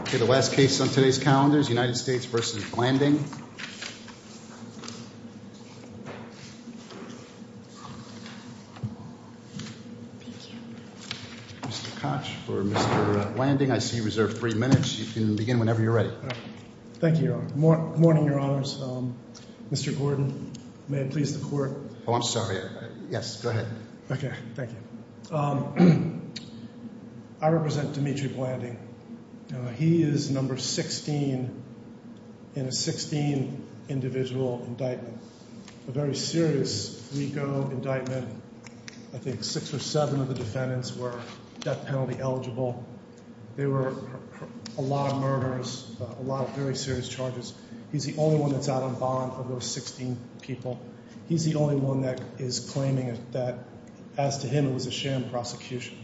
Okay, the last case on today's calendar is United States v. Blanding. Mr. Koch for Mr. Blanding. I see you reserved three minutes. You can begin whenever you're ready. Thank you, Your Honor. Good morning, Your Honors. Mr. Gordon, may it please the Court. Oh, I'm sorry. Yes, go ahead. Okay, thank you. I represent Dimitri Blanding. He is number 16 in a 16 individual indictment. A very serious legal indictment. I think six or seven of the defendants were death penalty eligible. There were a lot of murders, a lot of very serious charges. He's the only one that's out on bond of those 16 people. He's the only one that is claiming that, as to him, it was a sham prosecution.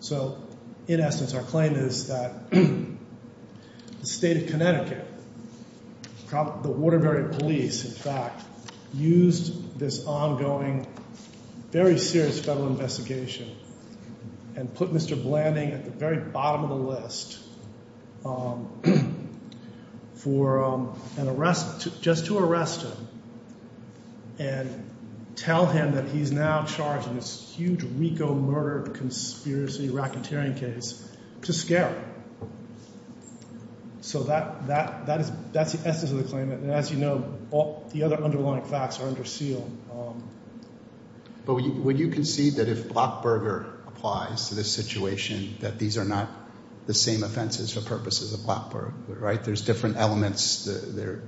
So, in essence, our claim is that the State of Connecticut, the Waterbury Police, in fact, used this ongoing, very serious federal investigation and put Mr. Blanding at the very bottom of the list for an arrest, just to arrest him and tell him that he's now charged in this huge RICO murder conspiracy racketeering case to scare him. So that's the essence of the claim. And as you know, the other underlying facts are under seal. But would you concede that if Blackburger applies to this situation, that these are not the same offenses for purposes of Blackburger, right? There's different elements. There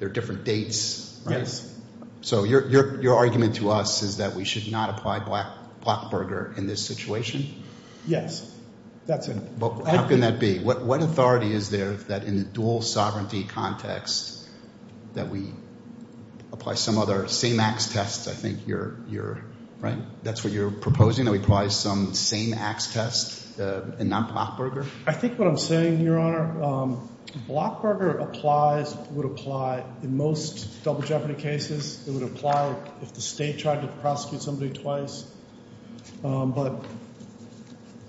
are different dates. So your argument to us is that we should not apply Blackburger in this situation? Yes, that's it. How can that be? What authority is there that in the dual sovereignty context, that we apply some other same-ax test? I think you're, right, that's what you're proposing, that we apply some same-ax test and not Blackburger? I think what I'm saying, Your Honor, Blackburger applies, would apply in most double jeopardy cases. It would apply if the state tried to prosecute somebody twice. But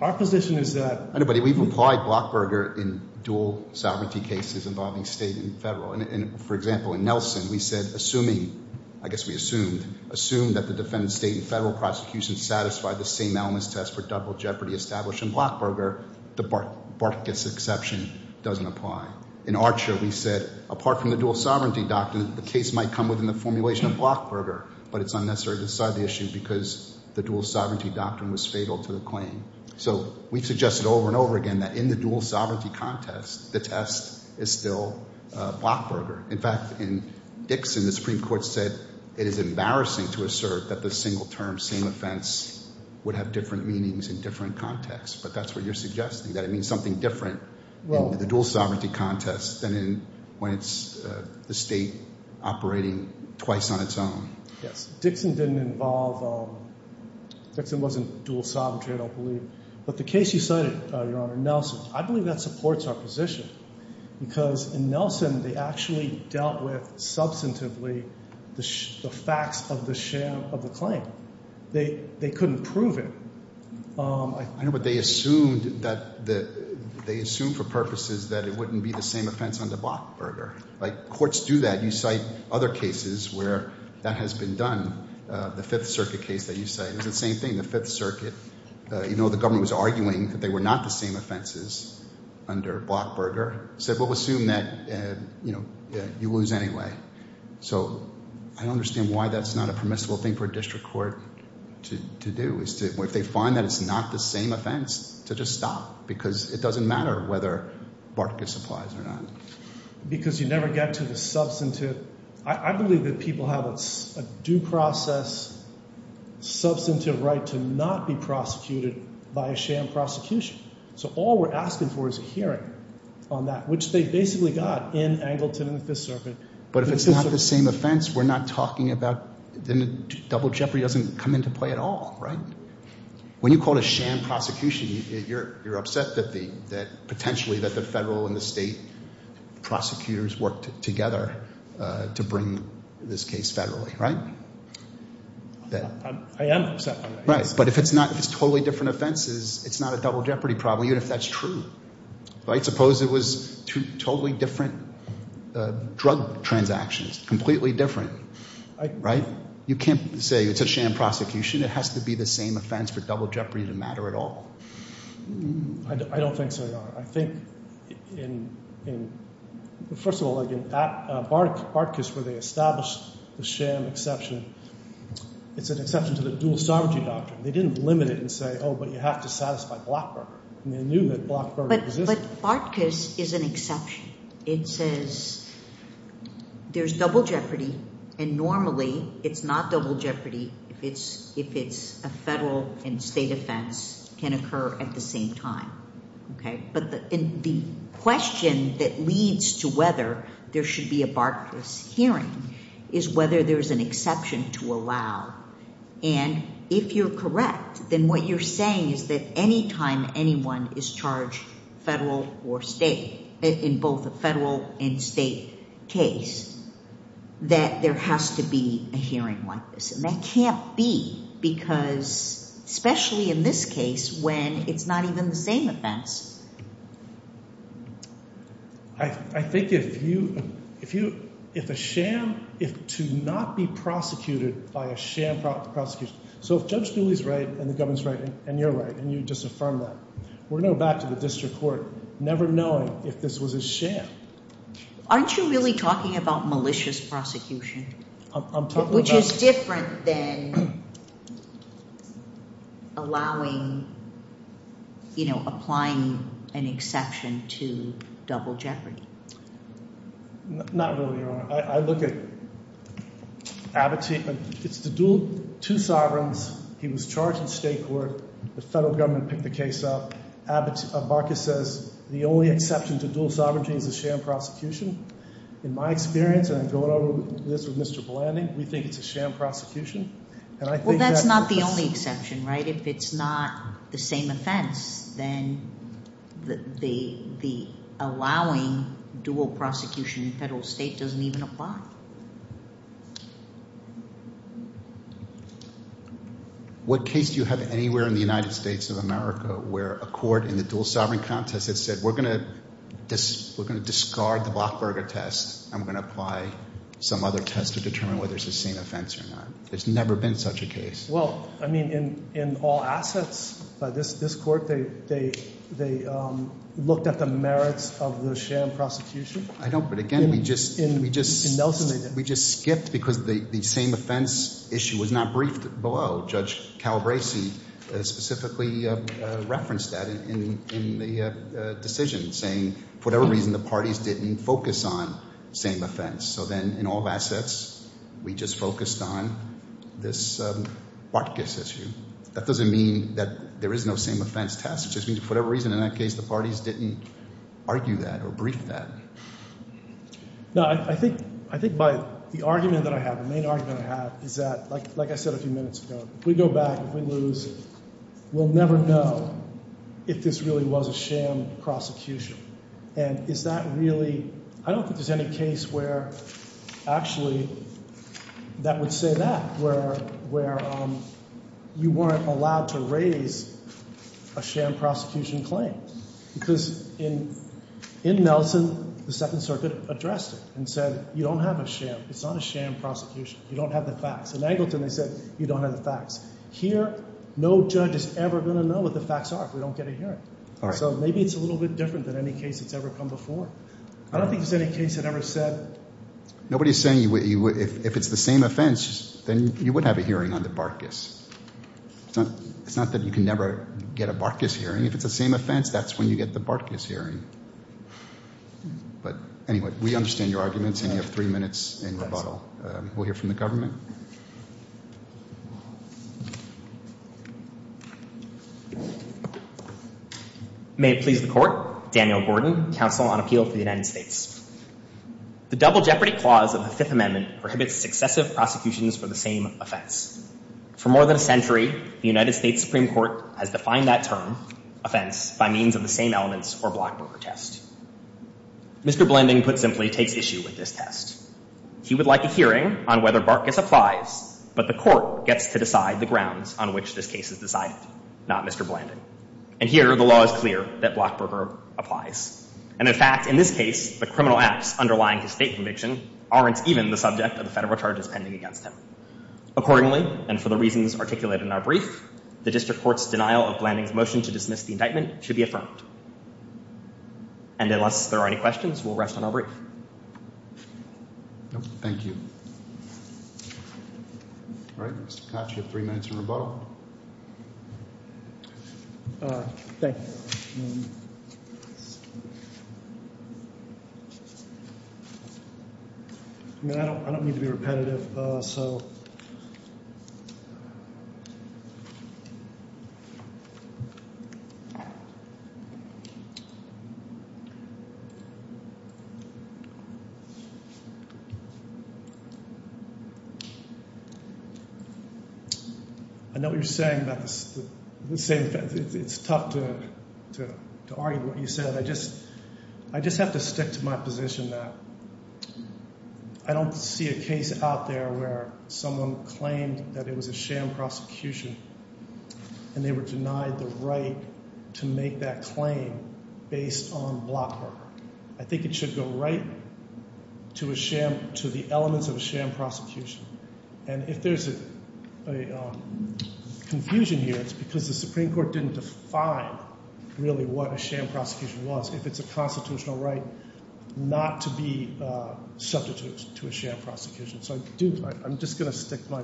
our position is that... We've applied Blackburger in dual sovereignty cases involving state and federal. And for example, in Nelson, we said, assuming, I guess we assumed, assumed that the defendant's state and federal prosecution satisfied the same elements test for double jeopardy established in Blackburger, the Barkas exception doesn't apply. In Archer, we said, apart from the dual sovereignty doctrine, the case might come within the formulation of Blackburger. But it's unnecessary to decide the issue because the dual sovereignty doctrine was fatal to the claim. So we've suggested over and over again that in the dual sovereignty contest, the test is still Blackburger. In fact, in Dixon, the Supreme Court said it is embarrassing to assert that the single term same offense would have different meanings in different contexts. But that's what you're suggesting, that it means something different in the dual sovereignty contest than in when it's the state operating twice on its own. Yes. Dixon didn't involve... Dixon wasn't dual sovereignty, I don't believe. But the case you cited, Your Honor, Nelson, I believe that supports our position because in Nelson, they actually dealt with substantively the facts of the claim. They couldn't prove it. I know, but they assumed that they assumed for purposes that it wouldn't be the same offense under Blackburger. Like courts do that. You cite other cases where that has been done. The Fifth Circuit case that you cite is the same thing. The Fifth Circuit, you know, the government was arguing that they were not the same offenses under Blackburger. Said we'll assume that, you know, you lose anyway. So I don't understand why that's not a permissible thing for a district court to do. If they find that it's not the same offense, to just stop because it doesn't matter whether Barkas applies or not. Because you never get to the substantive. I believe that people have a due process substantive right to not be prosecuted by a sham prosecution. So all we're asking for is a hearing on that, which they basically got in Angleton and the Fifth Circuit. But if it's not the same offense, we're not talking about double jeopardy doesn't come into play at all, right? When you call it a sham prosecution, you're upset that potentially that the federal and the state prosecutors worked together to bring this case federally, right? I am upset. But if it's not, if it's totally different offenses, it's not a double jeopardy problem, even if that's true. I suppose it was two totally different drug transactions, completely different, right? You can't say it's a sham prosecution. It has to be the same offense for double jeopardy to matter at all. I don't think so, Your Honor. I think in – first of all, in Barkas where they established the sham exception, it's an exception to the dual sovereignty doctrine. They didn't limit it and say, oh, but you have to satisfy Blockberger. But Barkas is an exception. It says there's double jeopardy, and normally it's not double jeopardy if it's a federal and state offense can occur at the same time. Okay? But the question that leads to whether there should be a Barkas hearing is whether there's an exception to allow. And if you're correct, then what you're saying is that any time anyone is charged federal or state, in both a federal and state case, that there has to be a hearing like this. And that can't be because – especially in this case when it's not even the same offense. I think if you – if a sham – to not be prosecuted by a sham prosecution. So if Judge Dooley is right and the government is right and you're right and you disaffirm that, we're going to go back to the district court never knowing if this was a sham. Aren't you really talking about malicious prosecution? I'm talking about – Which is different than allowing – you know, applying an exception to double jeopardy. Not really, Your Honor. I look at Abbott – it's the dual – two sovereigns. He was charged in state court. The federal government picked the case up. Barkas says the only exception to dual sovereignty is a sham prosecution. In my experience, and I'm going over this with Mr. Blanding, we think it's a sham prosecution. Well, that's not the only exception, right? If it's not the same offense, then the allowing dual prosecution in federal state doesn't even apply. What case do you have anywhere in the United States of America where a court in the dual sovereign contest has said we're going to discard the Blockberger test and we're going to apply some other test to determine whether it's the same offense or not? There's never been such a case. Well, I mean in all assets, this court, they looked at the merits of the sham prosecution. I don't – but again, we just – In Nelson – We just skipped because the same offense issue was not briefed below. Judge Calabresi specifically referenced that in the decision, saying for whatever reason the parties didn't focus on same offense. So then in all assets, we just focused on this Barkas issue. That doesn't mean that there is no same offense test. It just means for whatever reason in that case the parties didn't argue that or brief that. No, I think by the argument that I have, the main argument I have is that, like I said a few minutes ago, if we go back, if we lose, we'll never know if this really was a sham prosecution. And is that really – I don't think there's any case where actually that would say that, where you weren't allowed to raise a sham prosecution claim. Because in Nelson, the Second Circuit addressed it and said you don't have a sham. It's not a sham prosecution. You don't have the facts. In Angleton, they said you don't have the facts. Here, no judge is ever going to know what the facts are if we don't get a hearing. So maybe it's a little bit different than any case that's ever come before. I don't think there's any case that ever said – Nobody is saying if it's the same offense, then you would have a hearing on the Barkas. It's not that you can never get a Barkas hearing. If it's the same offense, that's when you get the Barkas hearing. But anyway, we understand your arguments, and you have three minutes in rebuttal. We'll hear from the government. May it please the Court. Daniel Gordon, Counsel on Appeal for the United States. The Double Jeopardy Clause of the Fifth Amendment prohibits successive prosecutions for the same offense. For more than a century, the United States Supreme Court has defined that term, offense, by means of the same elements or Blockberger test. Mr. Blanding, put simply, takes issue with this test. He would like a hearing on whether Barkas applies, but the Court gets to decide the grounds on which this case is decided, not Mr. Blanding. And here, the law is clear that Blockberger applies. And in fact, in this case, the criminal acts underlying his state conviction aren't even the subject of the federal charges pending against him. Accordingly, and for the reasons articulated in our brief, the District Court's denial of Blanding's motion to dismiss the indictment should be affirmed. And unless there are any questions, we'll rest on our brief. Thank you. All right, Mr. Koch, you have three minutes in rebuttal. Thank you. And... I mean, I don't need to be repetitive, so... All right. I know what you're saying about the same thing. It's tough to argue what you said. I just have to stick to my position that I don't see a case out there where someone claimed that it was a sham prosecution and they were denied the right to make that claim based on Blockberger. I think it should go right to the elements of a sham prosecution. And if there's a confusion here, it's because the Supreme Court didn't define really what a sham prosecution was. If it's a constitutional right not to be subject to a sham prosecution. So I'm just going to stick my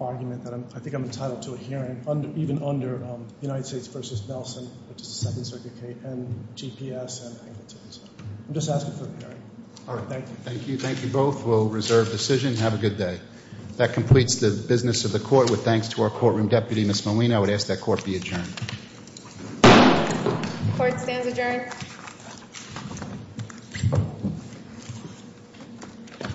argument that I think I'm entitled to a hearing even under United States v. Nelson, which is the Second Circuit case, and GPS, and I think that's it. So I'm just asking for a hearing. All right. Thank you. Thank you. Thank you both. We'll reserve decision and have a good day. That completes the business of the court. With thanks to our courtroom deputy, Ms. Moline, I would ask that court be adjourned. Court stands adjourned.